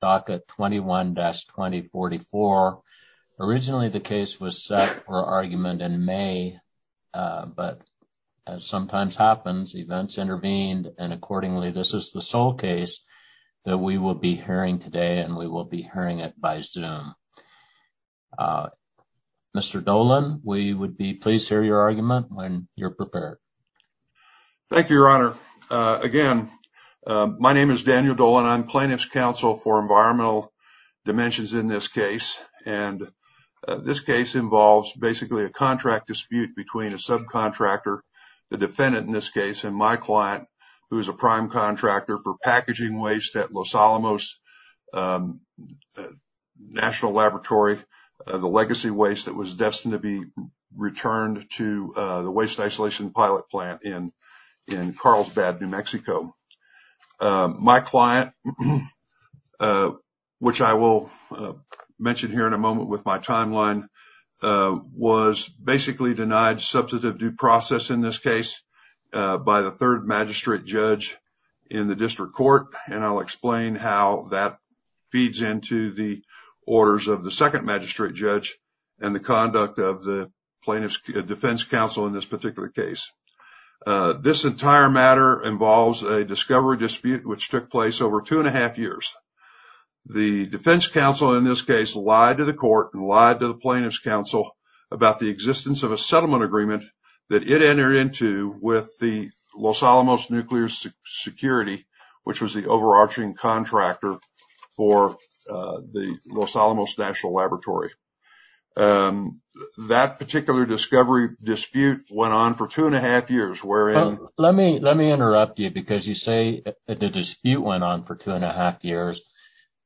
docket 21-2044. Originally the case was set for argument in May, but as sometimes happens, events intervened and accordingly this is the sole case that we will be hearing today and we will be hearing it by Zoom. Mr. Dolan, we would be pleased to hear your argument when you're prepared. Thank you, Your Honor. Again, my name is Daniel Dolan. I'm plaintiff's counsel for Environmental Dimensions in this case and this case involves basically a contract dispute between a subcontractor, the defendant in this case, and my client who is a prime contractor for packaging waste at Los Alamos National Laboratory, the legacy waste that was destined to be returned to the waste isolation pilot plant in Carlsbad, New Mexico. My client, which I will mention here in a moment with my timeline, was basically denied substantive due process in this case by the third magistrate judge in the district court and I'll explain how that feeds into the orders of the second magistrate judge and the conduct of the plaintiff's defense counsel in this particular case. This entire matter involves a discovery dispute which took place over two and a half years. The defense counsel in this case lied to the court and lied to the plaintiff's counsel about the existence of a settlement agreement that it entered into with the Los Alamos Nuclear Security, which was the overarching contractor for the Los Alamos National Laboratory. That discovery dispute went on for two and a half years. Let me interrupt you because you say that the dispute went on for two and a half years,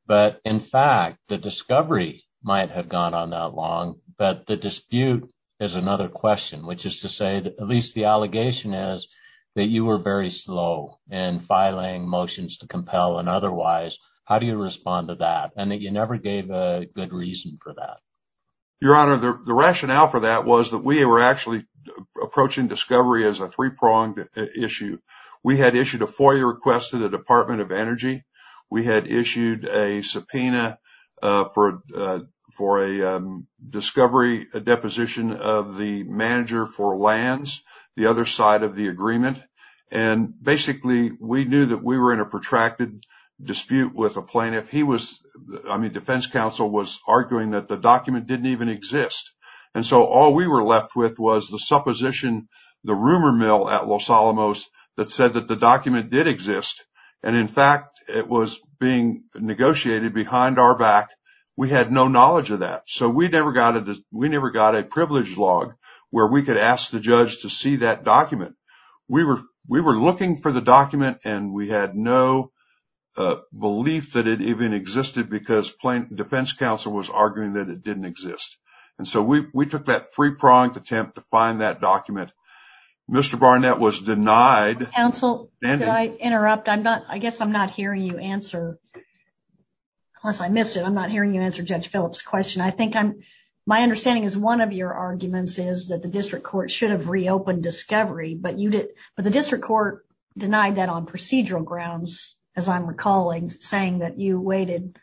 but in fact the discovery might have gone on that long, but the dispute is another question, which is to say that at least the allegation is that you were very slow in filing motions to compel and otherwise. How do you respond to that and that you never gave a good reason for that? Your Honor, the rationale for that was that we were actually approaching discovery as a three-pronged issue. We had issued a FOIA request to the Department of Energy. We had issued a subpoena for a discovery deposition of the manager for lands, the other side of the agreement. Basically, we knew that we were in a protracted dispute with a plaintiff. The defense counsel was arguing that the document didn't even exist. All we were left with was the supposition, the rumor mill at Los Alamos that said that the document did exist. In fact, it was being negotiated behind our back. We had no knowledge of that. We never got a privilege log where we could ask the judge to see that document. We were looking for the document and we had no belief that it even existed because the defense counsel was arguing that it didn't exist. We took that three-pronged attempt to find that document. Mr. Barnett was denied. Counsel, did I interrupt? I guess I'm not hearing you answer unless I missed it. I'm not hearing you answer Judge Phillips' question. I think my understanding is one of your arguments is that the district court should have reopened discovery, but the district court denied that on procedural grounds, as I'm recalling, saying that you waited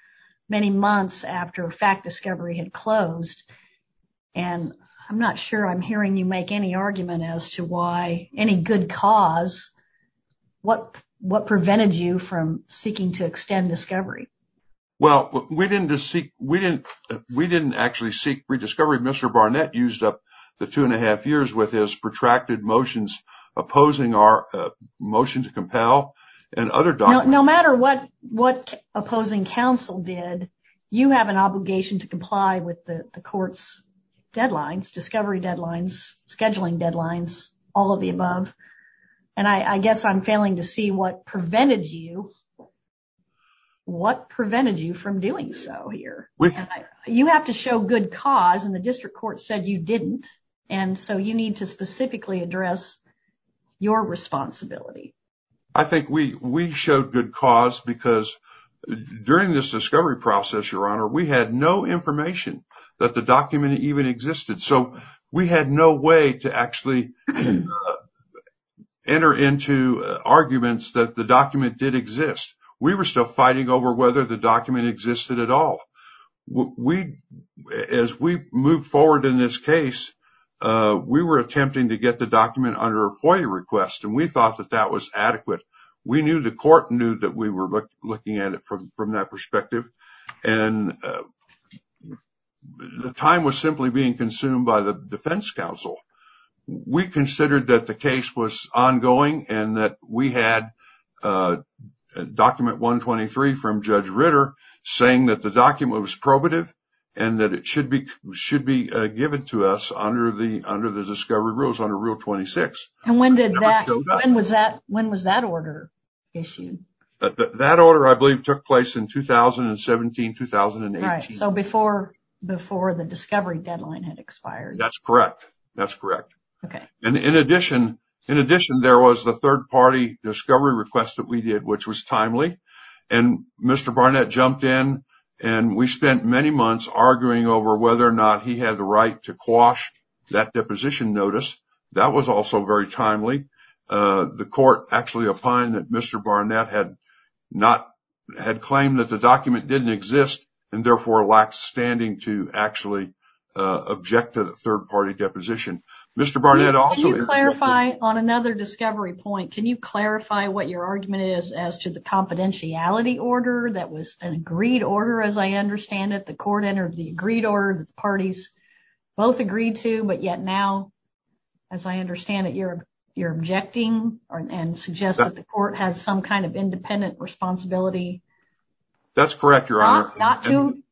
many months after fact discovery had closed. I'm not sure I'm hearing you make any argument as to why any good cause, what prevented you from seeking to extend discovery? Well, we didn't actually seek rediscovery. Mr. Barnett used up the two and a half years with his protracted motions opposing our motion to compel and other documents. No matter what opposing counsel did, you have an obligation to comply with the court's deadlines, discovery deadlines, scheduling deadlines, all of the above. I guess I'm failing to see what prevented you from doing so here. You have to show good cause and the specifically address your responsibility. I think we showed good cause because during this discovery process, Your Honor, we had no information that the document even existed, so we had no way to actually enter into arguments that the document did exist. We were still fighting over whether the document existed at all. As we moved forward in this case, we were attempting to get the document under a FOIA request, and we thought that that was adequate. We knew the court knew that we were looking at it from that perspective, and the time was simply being consumed by the defense counsel. We considered that the case was ongoing and that we had document 123 from Judge Ritter saying that the document was probative and that it should be given to us under the discovery rules, under Rule 26. When was that order issued? That order, I believe, took place in 2017-2018. So before the discovery deadline had expired. That's correct. In addition, there was the third-party discovery request that we did, which was timely. Mr. Barnett jumped in and we spent many months arguing over whether or not he had the right to quash that deposition notice. That was also very timely. The court actually opined that Mr. Barnett had claimed that the document didn't exist and therefore lacked standing to actually object to the third-party deposition. Mr. Barnett also— On another discovery point, can you clarify what your argument is as to the confidentiality order that was an agreed order, as I understand it? The court entered the agreed order that the parties both agreed to, but yet now, as I understand it, you're objecting and suggest that the court has some kind of independent responsibility— That's correct, Your Honor.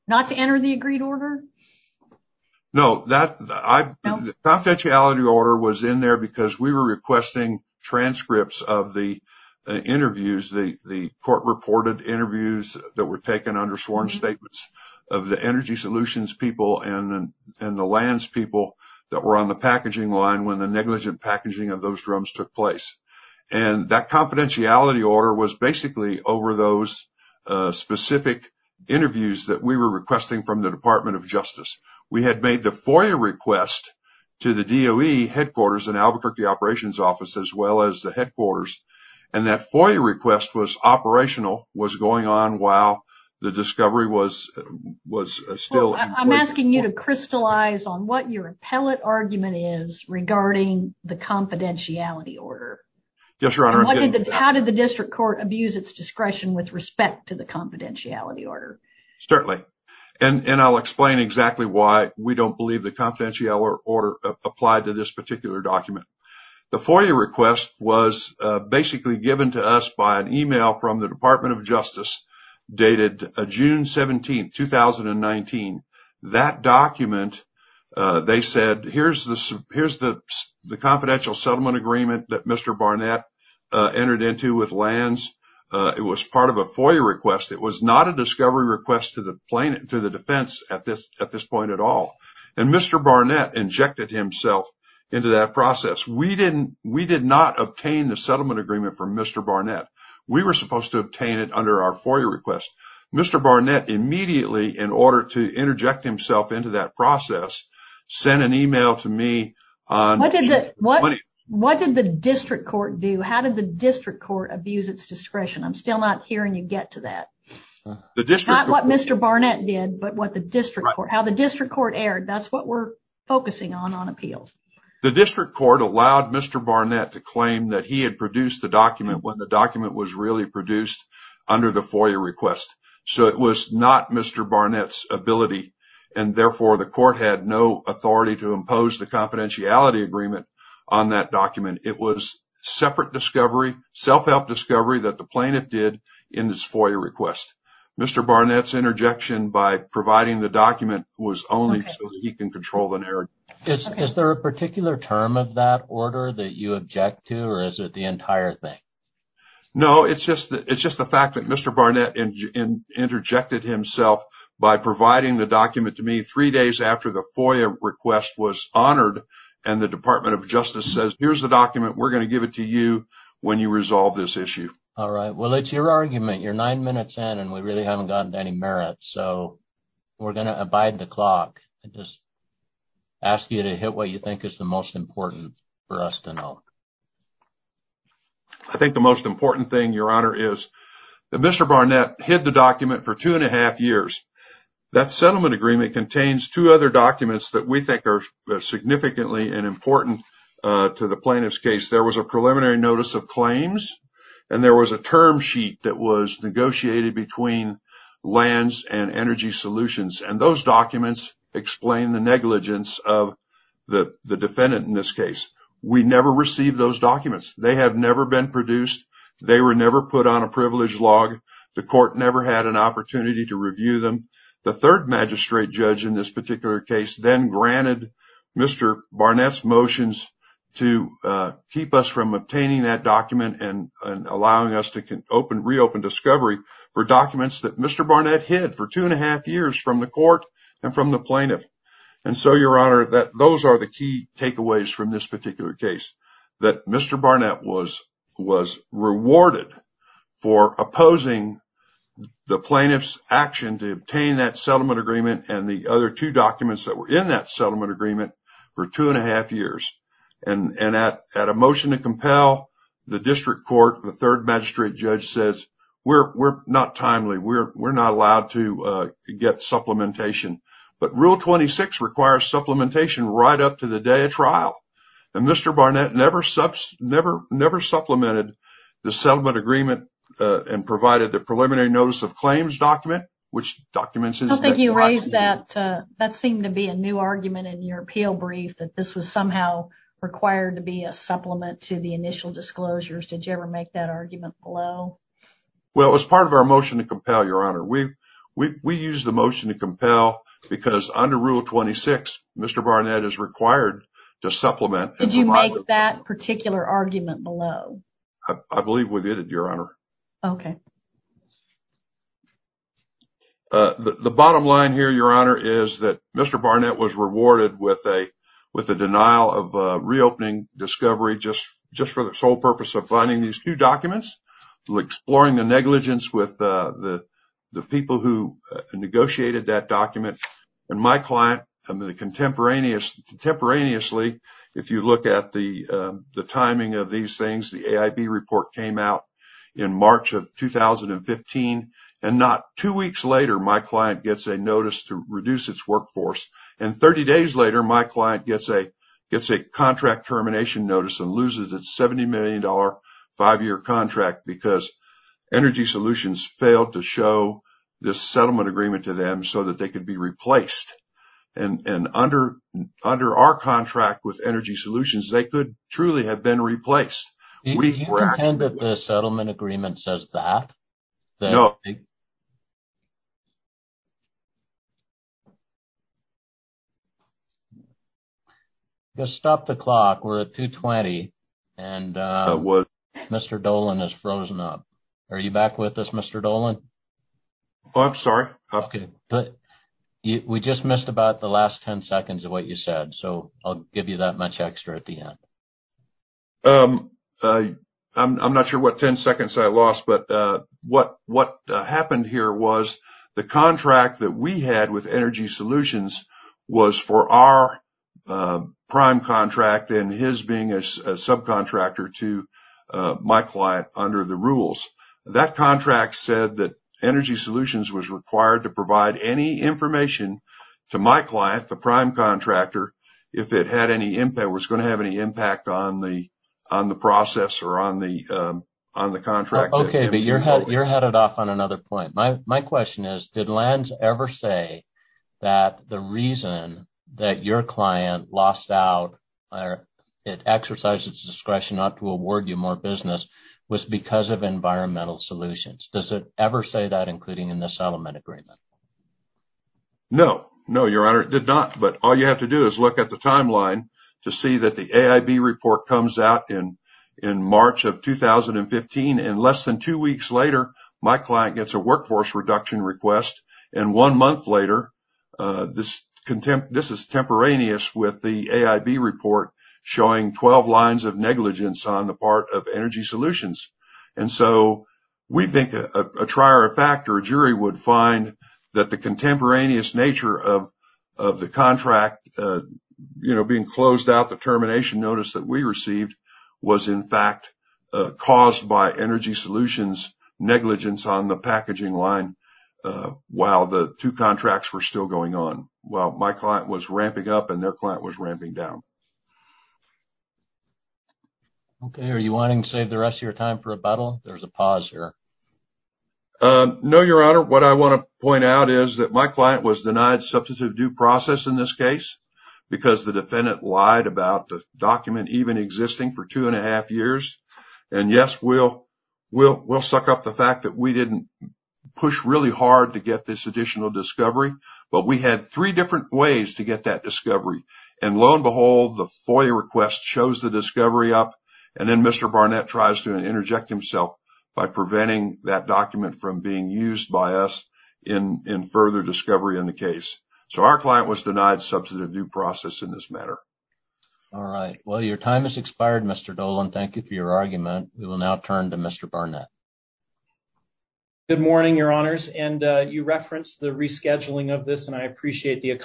Not to enter the agreed order? No. The confidentiality order was in there because we were requesting transcripts of the interviews, the court-reported interviews that were taken under sworn statements of the Energy Solutions people and the Lands people that were on the packaging line when the negligent packaging of those drums took place. And that confidentiality order was basically over those specific interviews that we were requesting from the Department of Justice. We had made the FOIA request to the DOE headquarters and Albuquerque operations office as well as the headquarters, and that FOIA request was operational, was going on while the discovery was still— I'm asking you to crystallize on what your appellate argument is regarding the confidentiality order. Yes, Your Honor. How did the district court abuse its discretion with respect to the confidentiality order? Certainly. And I'll explain exactly why we don't believe the confidentiality order applied to this particular document. The FOIA request was basically given to us by an email from the Department of Justice dated June 17, 2019. That document, they said, here's the confidential settlement agreement that Mr. Barnett entered into with Lands. It was part of a FOIA request. It was not a discovery request to the defense at this point at all. And Mr. Barnett injected himself into that process. We did not obtain the settlement agreement from Mr. Barnett. We were supposed to obtain it under our FOIA request. Mr. Barnett immediately, in order to interject himself into that process, sent an email to me. What did the district court do? How did the district court abuse its discretion? I'm still not hearing you get to that. Not what Mr. Barnett did, but how the district court erred. That's what we're focusing on, on appeal. The district court allowed Mr. Barnett to claim that he had produced the document when the document was really produced under the FOIA request. So it was not Mr. Barnett's ability, and therefore the court had no authority to impose the confidentiality agreement on that document. It was separate discovery, self-help discovery that the plaintiff did in this FOIA request. Mr. Barnett's interjection by providing the document was only so that he can control the narrative. Is there a particular term of that order that you object to, or is it the entire thing? No, it's just the fact that Mr. Barnett interjected himself by providing the document to me three days after the FOIA request was honored, and the Department of Justice says, here's the document. We're going to give it to you when you resolve this issue. All right. Well, it's your argument. You're nine minutes in, and we really haven't gotten to any merit, so we're going to abide the clock and just ask you to hit what you think is the most important for us to know. I think the most important thing, Your Honor, is that Mr. Barnett hid the document for two and a half years. That settlement agreement contains two other documents that we think are significantly and important to the plaintiff's case. There was a preliminary notice of claims, and there was a term sheet that was negotiated between Lands and Energy Solutions, and those documents explain the negligence of the defendant in this case. We never received those documents. They have never been produced. They were never put on a privilege log. The court never had an opportunity to review them. The third magistrate judge in this particular case then and allowing us to reopen discovery for documents that Mr. Barnett hid for two and a half years from the court and from the plaintiff. Your Honor, those are the key takeaways from this particular case, that Mr. Barnett was rewarded for opposing the plaintiff's action to obtain that settlement agreement and the other two documents that were in that settlement agreement for two and a half years. At a motion to compel, the district court, the third magistrate judge says, we're not timely. We're not allowed to get supplementation, but Rule 26 requires supplementation right up to the day of trial. Mr. Barnett never supplemented the settlement agreement and provided the preliminary notice of claims document, which documents... I don't think you raised that. That seemed to be a new argument in your appeal brief, that this was somehow required to be a supplement to the initial disclosures. Did you ever make that argument below? Well, it was part of our motion to compel, Your Honor. We used the motion to compel because under Rule 26, Mr. Barnett is required to supplement. Did you make that particular argument below? I believe we did, Your Honor. Okay. The bottom line here, Your Honor, is that Mr. Barnett was rewarded with a denial of reopening discovery just for the sole purpose of finding these two documents, exploring the negligence with the people who negotiated that document. My client, contemporaneously, if you look at the timing of these things, the AIB report came out in March of 2015, and not two weeks later, my client gets a notice to reduce its workforce. And 30 days later, my client gets a contract termination notice and loses its $70 million five-year contract because Energy Solutions failed to show this settlement agreement to them so that they could be replaced. And under our contract with Energy Solutions, they could truly have been replaced. Do you intend that the settlement agreement says that? No. Stop the clock. We're at 2.20 and Mr. Dolan has frozen up. Are you back with us, Mr. Dolan? Oh, I'm sorry. Okay. We just missed about the last 10 seconds of what you said, so I'll give you that much extra at the end. I'm not sure what 10 seconds I lost, but what happened here was the contract that we had with Energy Solutions was for our prime contract and his being a subcontractor to my client under the rules. That contract said that Energy Solutions was required to provide any information to my client, the prime contractor, if it was going to have any impact on the process or on the contract. Okay, but you're headed off on another point. My question is, did LANS ever say that the reason that your client lost out or it exercised its discretion not to award you more business was because of Environmental Solutions? Does it ever say that, including in the settlement agreement? No. No, Your Honor, it did not, but all you have to do is look at the timeline to see that the AIB report comes out in March of 2015 and less than two weeks later, my client gets a workforce reduction request and one month later, this is contemporaneous with the AIB report showing 12 lines of negligence on the part of Energy Solutions. And so, we think a jury would find that the contemporaneous nature of the contract, you know, being closed out, the termination notice that we received was in fact caused by Energy Solutions negligence on the packaging line while the two contracts were still going on, while my client was ramping up and their client was ramping down. Okay, are you wanting to save the rest of your time for the pause here? No, Your Honor, what I want to point out is that my client was denied substantive due process in this case because the defendant lied about the document even existing for two and a half years. And yes, we'll suck up the fact that we didn't push really hard to get this additional discovery, but we had three different ways to get that discovery. And lo and behold, the FOIA request shows the discovery up and then Mr. Barnett tries to interject himself by preventing that document from being used by us in further discovery in the case. So, our client was denied substantive due process in this matter. All right. Well, your time has expired, Mr. Dolan. Thank you for your argument. We will now turn to Mr. Barnett. Good morning, Your Honors. And you referenced the rescheduling of this and I appreciate the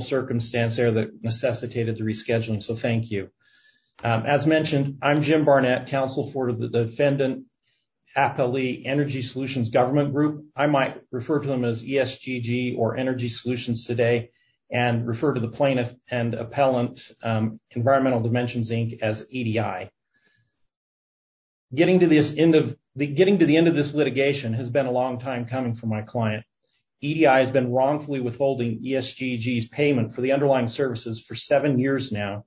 circumstance there that necessitated the rescheduling. So, thank you. As mentioned, I'm Jim Barnett, counsel for the Defendant Appellee Energy Solutions Government Group. I might refer to them as ESGG or Energy Solutions today and refer to the plaintiff and appellant, Environmental Dimensions, Inc. as EDI. Getting to the end of this litigation has been a long time coming for my client. EDI has been wrongfully withholding ESGG's payment for the underlying services for seven years now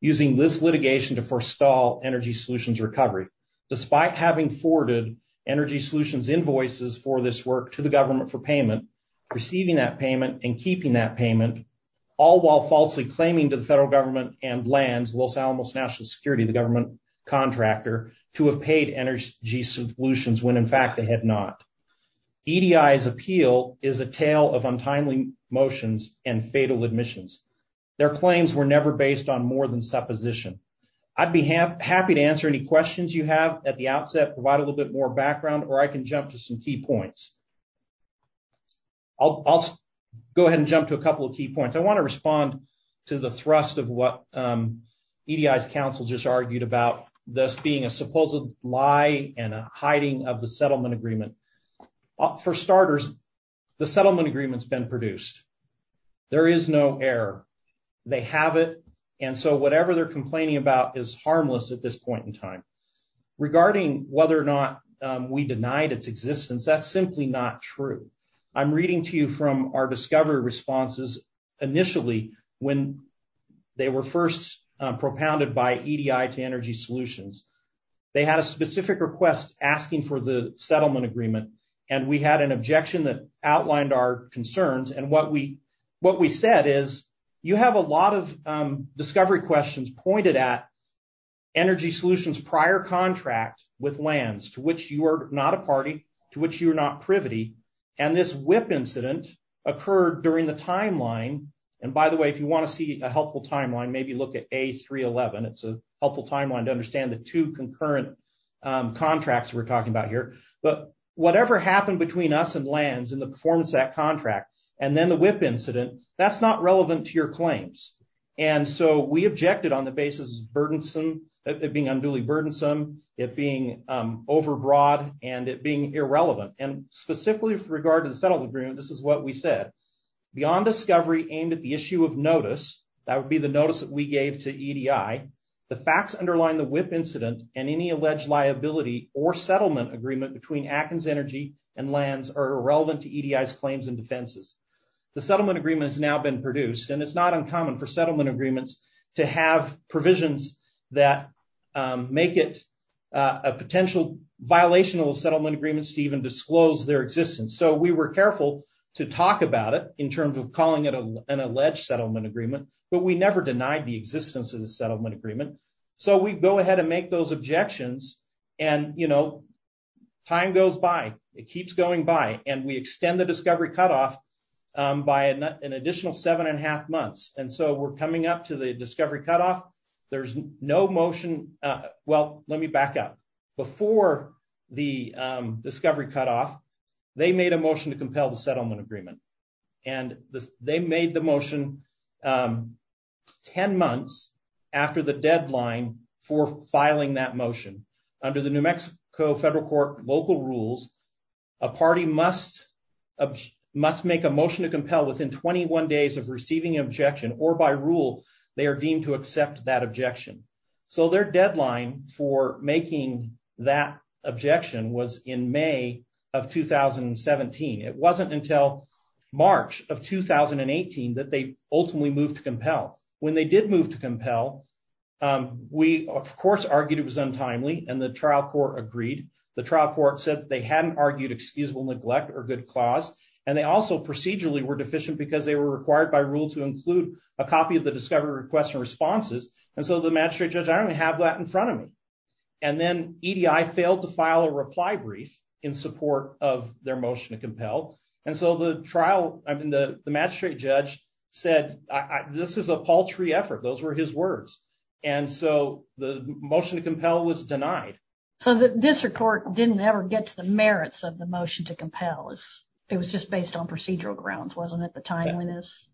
using this litigation to forestall Energy Solutions recovery. Despite having forwarded Energy Solutions invoices for this work to the government for payment, receiving that payment and keeping that payment, all while falsely claiming to the federal government and LANS, Los Alamos National Security, the government contractor, to have paid Energy Solutions when in fact they had not. EDI's appeal is a tale of untimely motions and fatal admissions. Their claims were never based on more than supposition. I'd be happy to answer any questions you have at the outset, provide a little bit more background, or I can jump to some key points. I'll go ahead and jump to a couple of key points. I want to respond to the thrust of what EDI's counsel just argued about this being a supposed lie and a hiding of the settlement agreement. For starters, the settlement agreement's been produced. There is no error. They have it, and so whatever they're complaining about is harmless at this point in time. Regarding whether or not we denied its existence, that's simply not true. I'm reading to you from our discovery responses initially when they were first propounded by EDI to Energy Solutions. They had a specific request asking for the settlement agreement, and we had an objection that outlined our concerns, and what we said is you have a lot of discovery questions pointed at Energy Solutions' prior contract with LANS, to which you are not a party, to which you are not a party. The WIP incident occurred during the timeline, and by the way, if you want to see a helpful timeline, maybe look at A311. It's a helpful timeline to understand the two concurrent contracts we're talking about here, but whatever happened between us and LANS in the performance act contract and then the WIP incident, that's not relevant to your claims, and so we objected on the basis of burdensome, it being unduly burdensome, it being overbroad, and it being irrelevant, and specifically with regard to the settlement agreement, this is what we said. Beyond discovery aimed at the issue of notice, that would be the notice that we gave to EDI, the facts underlying the WIP incident and any alleged liability or settlement agreement between Atkins Energy and LANS are irrelevant to EDI's claims and defenses. The settlement agreement has now been produced, and it's not uncommon for settlement agreements to have provisions that make it a potential violation of the settlement agreements to even disclose their existence, so we were careful to talk about it in terms of calling it an alleged settlement agreement, but we never denied the existence of the settlement agreement, so we go ahead and make those objections, and time goes by. It keeps going by, and we extend the discovery cutoff by an additional seven and a half months, and so we're coming up to the there's no motion. Well, let me back up. Before the discovery cutoff, they made a motion to compel the settlement agreement, and they made the motion 10 months after the deadline for filing that motion. Under the New Mexico federal court local rules, a party must make a motion to So their deadline for making that objection was in May of 2017. It wasn't until March of 2018 that they ultimately moved to compel. When they did move to compel, we of course argued it was untimely, and the trial court agreed. The trial court said they hadn't argued excusable neglect or good clause, and they also procedurally were deficient because they were required by rule to include a copy of the discovery request and responses, and so the magistrate judge, I don't have that in front of me, and then EDI failed to file a reply brief in support of their motion to compel, and so the trial, I mean the magistrate judge said this is a paltry effort. Those were his words, and so the motion to compel was denied. So the district court didn't ever get to the merits of the motion to compel. It was just based on procedural grounds, wasn't it? The timeliness.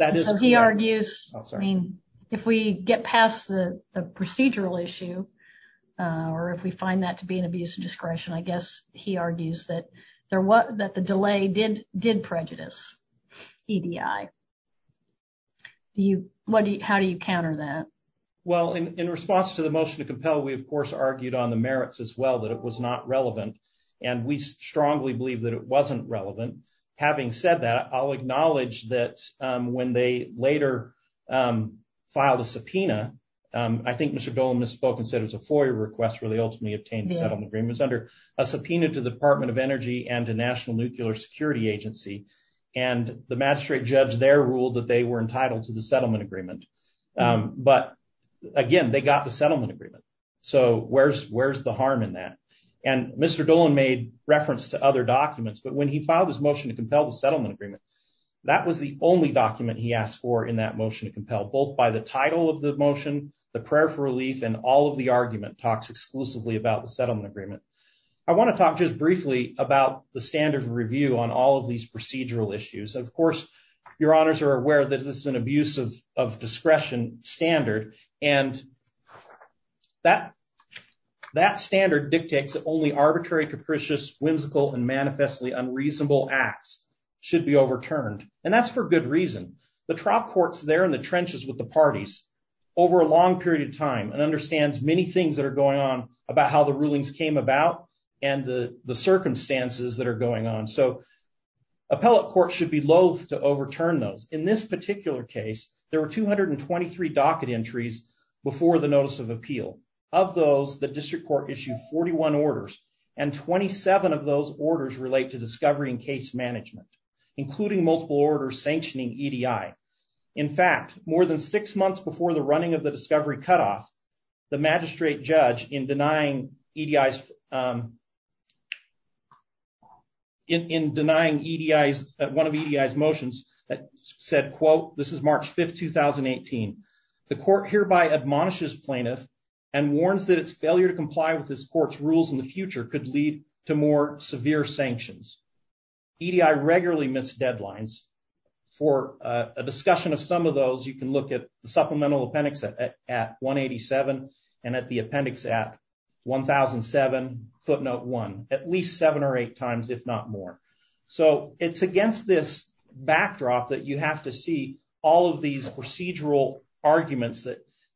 So he argues, I mean, if we get past the procedural issue, or if we find that to be an abuse of discretion, I guess he argues that the delay did prejudice EDI. How do you counter that? Well, in response to the motion to compel, we of course argued on the merits as well, that it was not relevant, and we strongly believe that it wasn't relevant. Having said that, I'll acknowledge that when they later filed a subpoena, I think Mr. Dolan misspoke and said it was a FOIA request where they ultimately obtained settlement agreements under a subpoena to the Department of Energy and the National Nuclear Security Agency, and the magistrate judge there ruled that they were entitled to the settlement agreement, but again, they got the settlement agreement, so where's the harm in that? And Mr. Dolan made reference to other documents, but when he filed his motion to compel the settlement agreement, that was the only document he asked for in that motion to compel, both by the title of the motion, the prayer for relief, and all of the argument talks exclusively about the settlement agreement. I want to talk just briefly about the standard review on all of these procedural issues. Of course, your honors are aware that this is an abuse of discretion standard, and that standard dictates that only arbitrary, capricious, whimsical, and manifestly unreasonable acts should be overturned, and that's for good reason. The trial court's there in the trenches with the parties over a long period of time and understands many things that are going on about how the rulings came about and the circumstances that are going on, so appellate courts should be loath to overturn those. In this particular case, there were 223 docket entries before the notice of appeal. Of those, the district court issued 41 orders, and 27 of those orders relate to discovery and case management, including multiple orders sanctioning EDI. In fact, more than six months before the running of the discovery cutoff, the magistrate judge, in denying one of EDI's motions, said, quote, this is March 5th, 2018, the court hereby admonishes plaintiff and warns that its failure to comply with this court's in the future could lead to more severe sanctions. EDI regularly missed deadlines. For a discussion of some of those, you can look at the supplemental appendix at 187 and at the appendix at 1007 footnote one, at least seven or eight times, if not more. So it's against this backdrop that you have to see all of these procedural arguments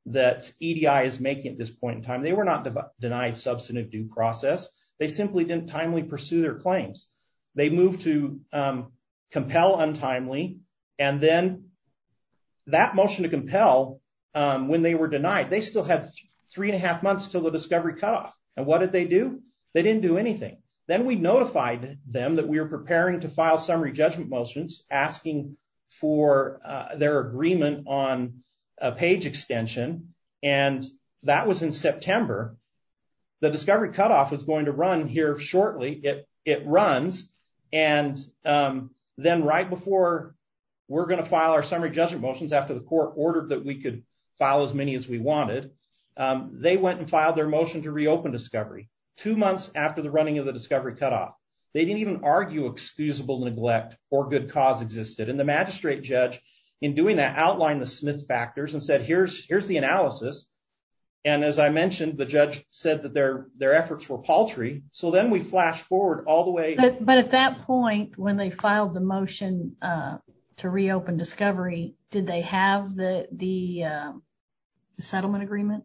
that EDI is making at this point in time. They were not denied substantive due process. They simply didn't timely pursue their claims. They moved to compel untimely. And then that motion to compel, when they were denied, they still had three and a half months till the discovery cutoff. And what did they do? They didn't do anything. Then we notified them that we were preparing to September. The discovery cutoff was going to run here shortly. It runs. And then right before we're going to file our summary judgment motions after the court ordered that we could file as many as we wanted, they went and filed their motion to reopen discovery two months after the running of the discovery cutoff. They didn't even argue excusable neglect or good cause existed. And the magistrate judge, in doing that, outlined the Smith factors and said, here's the analysis. And as I mentioned, the judge said that their their efforts were paltry. So then we flash forward all the way. But at that point, when they filed the motion to reopen discovery, did they have the settlement agreement?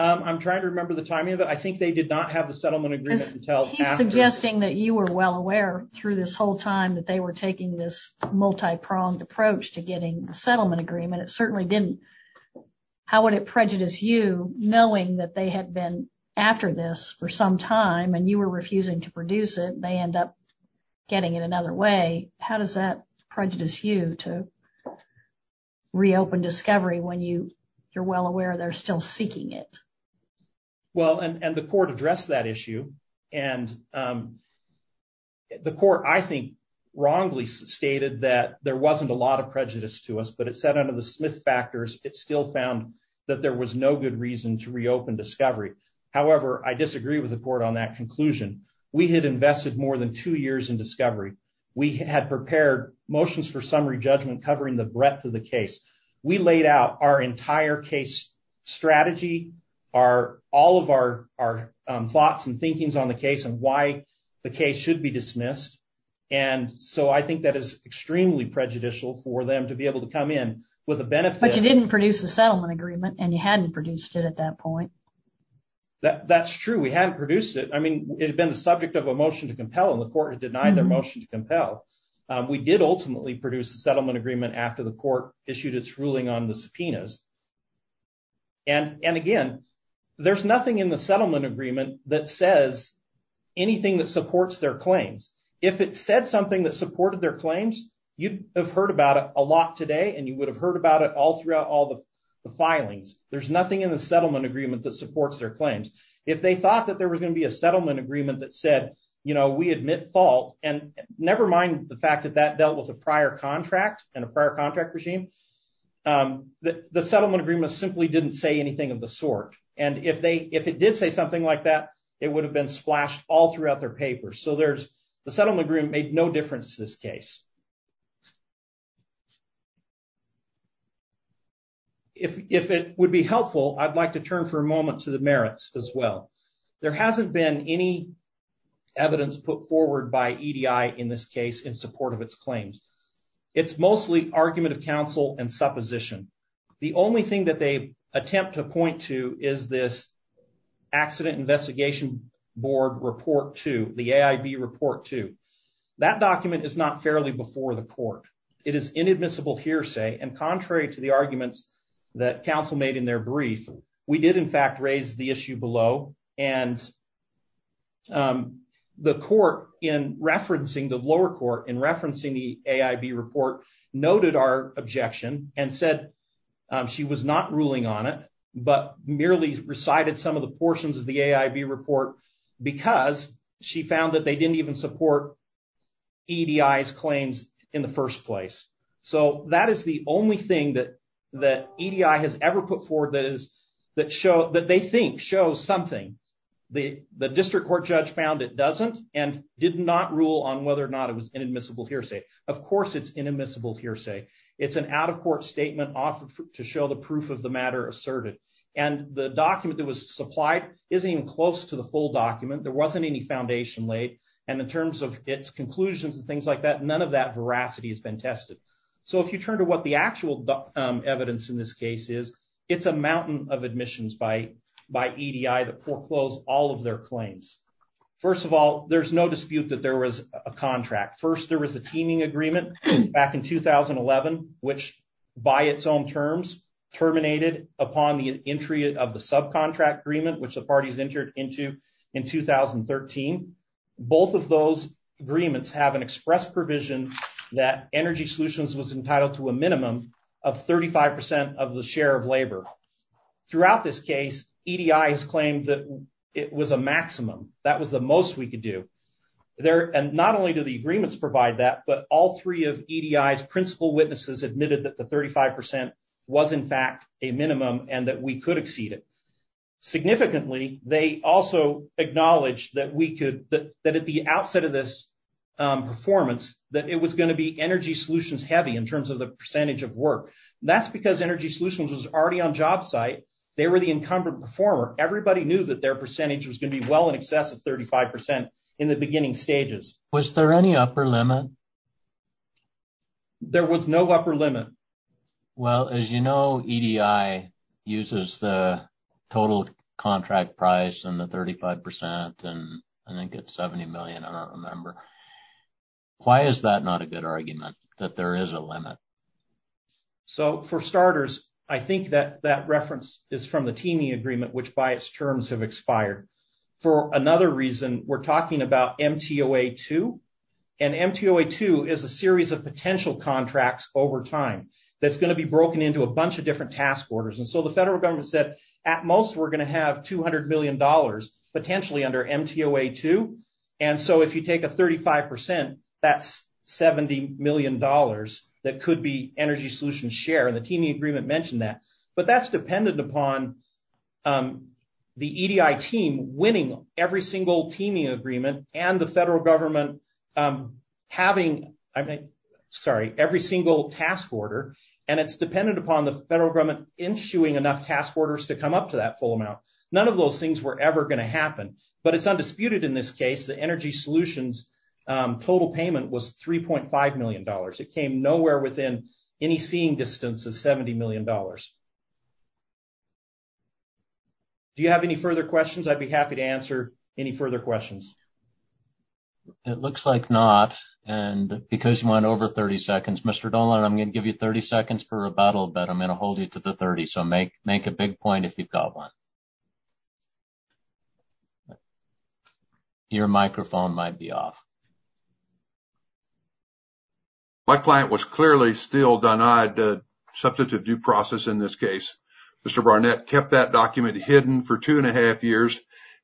I'm trying to remember the timing of it. I think they did not have the settlement agreement. He's suggesting that you were well aware through this whole time that they were taking this multi-pronged approach to getting a settlement agreement. It certainly didn't. How would it prejudice you knowing that they had been after this for some time and you were refusing to produce it? They end up getting it another way. How does that prejudice you to reopen discovery when you you're well aware they're still seeking it? Well, and the court addressed that issue. And the court, I think, wrongly stated that there wasn't a lot of prejudice to us, but it said under the Smith factors, it still found that there was no good reason to reopen discovery. However, I disagree with the court on that conclusion. We had invested more than two years in discovery. We had prepared motions for summary judgment covering the breadth of the case. We laid out our entire case strategy, all of our thoughts and thinking on the case and why the case should be dismissed. And so I think that extremely prejudicial for them to be able to come in with a benefit. But you didn't produce the settlement agreement and you hadn't produced it at that point. That's true. We hadn't produced it. I mean, it had been the subject of a motion to compel and the court had denied their motion to compel. We did ultimately produce the settlement agreement after the court issued its ruling on the subpoenas. And again, there's nothing in the settlement agreement that says anything that supported their claims. You have heard about it a lot today and you would have heard about it all throughout all the filings. There's nothing in the settlement agreement that supports their claims. If they thought that there was going to be a settlement agreement that said, you know, we admit fault and nevermind the fact that that dealt with a prior contract and a prior contract regime, the settlement agreement simply didn't say anything of the sort. And if they, if it did say something like that, it would have been splashed all throughout their papers. So there's the settlement agreement made no difference to this case. If it would be helpful, I'd like to turn for a moment to the merits as well. There hasn't been any evidence put forward by EDI in this case in support of its claims. It's mostly argument of counsel and supposition. The only thing that they attempt to point to is this accident investigation board report to the AIB report to that document is not fairly before the court. It is inadmissible hearsay. And contrary to the arguments that counsel made in their brief, we did in fact, raise the issue below. And the court in referencing the lower court in referencing the AIB report noted our objection and said she was not ruling on it, but merely recited some of the portions of the AIB report because she found that they didn't even support EDI's claims in the first place. So that is the only thing that, that EDI has ever put forward that is that show that they think show something. The, the district court judge found it doesn't and did not rule on whether or not it was inadmissible hearsay. Of course it's inadmissible hearsay. It's an out of court statement offered to show the proof of the matter asserted and the document that was supplied isn't even close to the full document. There wasn't any foundation laid and in terms of its conclusions and things like that, none of that veracity has been tested. So if you turn to what the actual evidence in this case is, it's a mountain of admissions by, by EDI that foreclosed all of their claims. First of all, there's no dispute that there was a contract. First, there was a contract that was, by its own terms, terminated upon the entry of the subcontract agreement, which the parties entered into in 2013. Both of those agreements have an express provision that energy solutions was entitled to a minimum of 35% of the share of labor. Throughout this case, EDI has claimed that it was a maximum. That was the most we could do there. And not only do the was in fact a minimum and that we could exceed it. Significantly, they also acknowledge that we could, that at the outset of this performance, that it was going to be energy solutions heavy in terms of the percentage of work. That's because energy solutions was already on jobsite. They were the incumbent performer. Everybody knew that their percentage was going to be well in excess of 35% in the beginning stages. Was there any upper limit? There was no upper limit. Well, as you know, EDI uses the total contract price and the 35% and I think it's 70 million. I don't remember. Why is that not a good argument that there is a limit? So for starters, I think that that reference is from the teaming agreement, which by its terms have expired. For another reason, we're talking about MTOA2. And MTOA2 is a series of potential contracts over time that's going to be broken into a bunch of different task orders. And so the federal government said at most, we're going to have $200 million potentially under MTOA2. And so if you take a 35%, that's $70 million that could be energy solutions share. And the EDI team winning every single teaming agreement and the federal government having, sorry, every single task order. And it's dependent upon the federal government issuing enough task orders to come up to that full amount. None of those things were ever going to happen. But it's undisputed in this case, the energy solutions total payment was $3.5 million. It came nowhere within any seeing distance of $70 million. Do you have any further questions? I'd be happy to answer any further questions. It looks like not. And because you went over 30 seconds, Mr. Dolan, I'm going to give you 30 seconds for rebuttal, but I'm going to hold you to the 30. So make a big point if you've got one. Your microphone might be off. My client was clearly still denied the substantive due process in this case. Mr. Barnett kept that document hidden for two and a half years.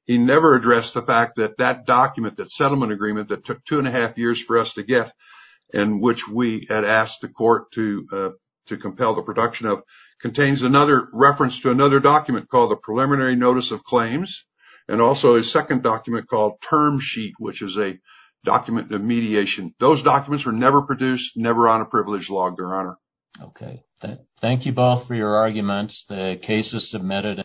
He never addressed the fact that that document, that settlement agreement that took two and a half years for us to get and which we had asked the court to compel the production of, contains another reference to another document called the Preliminary Notice of Claims and also a second document called Term Sheet, which is a document of mediation. Those documents were never produced, never on a privileged log, Your Honor. Okay. Thank you both for your arguments. The case is submitted.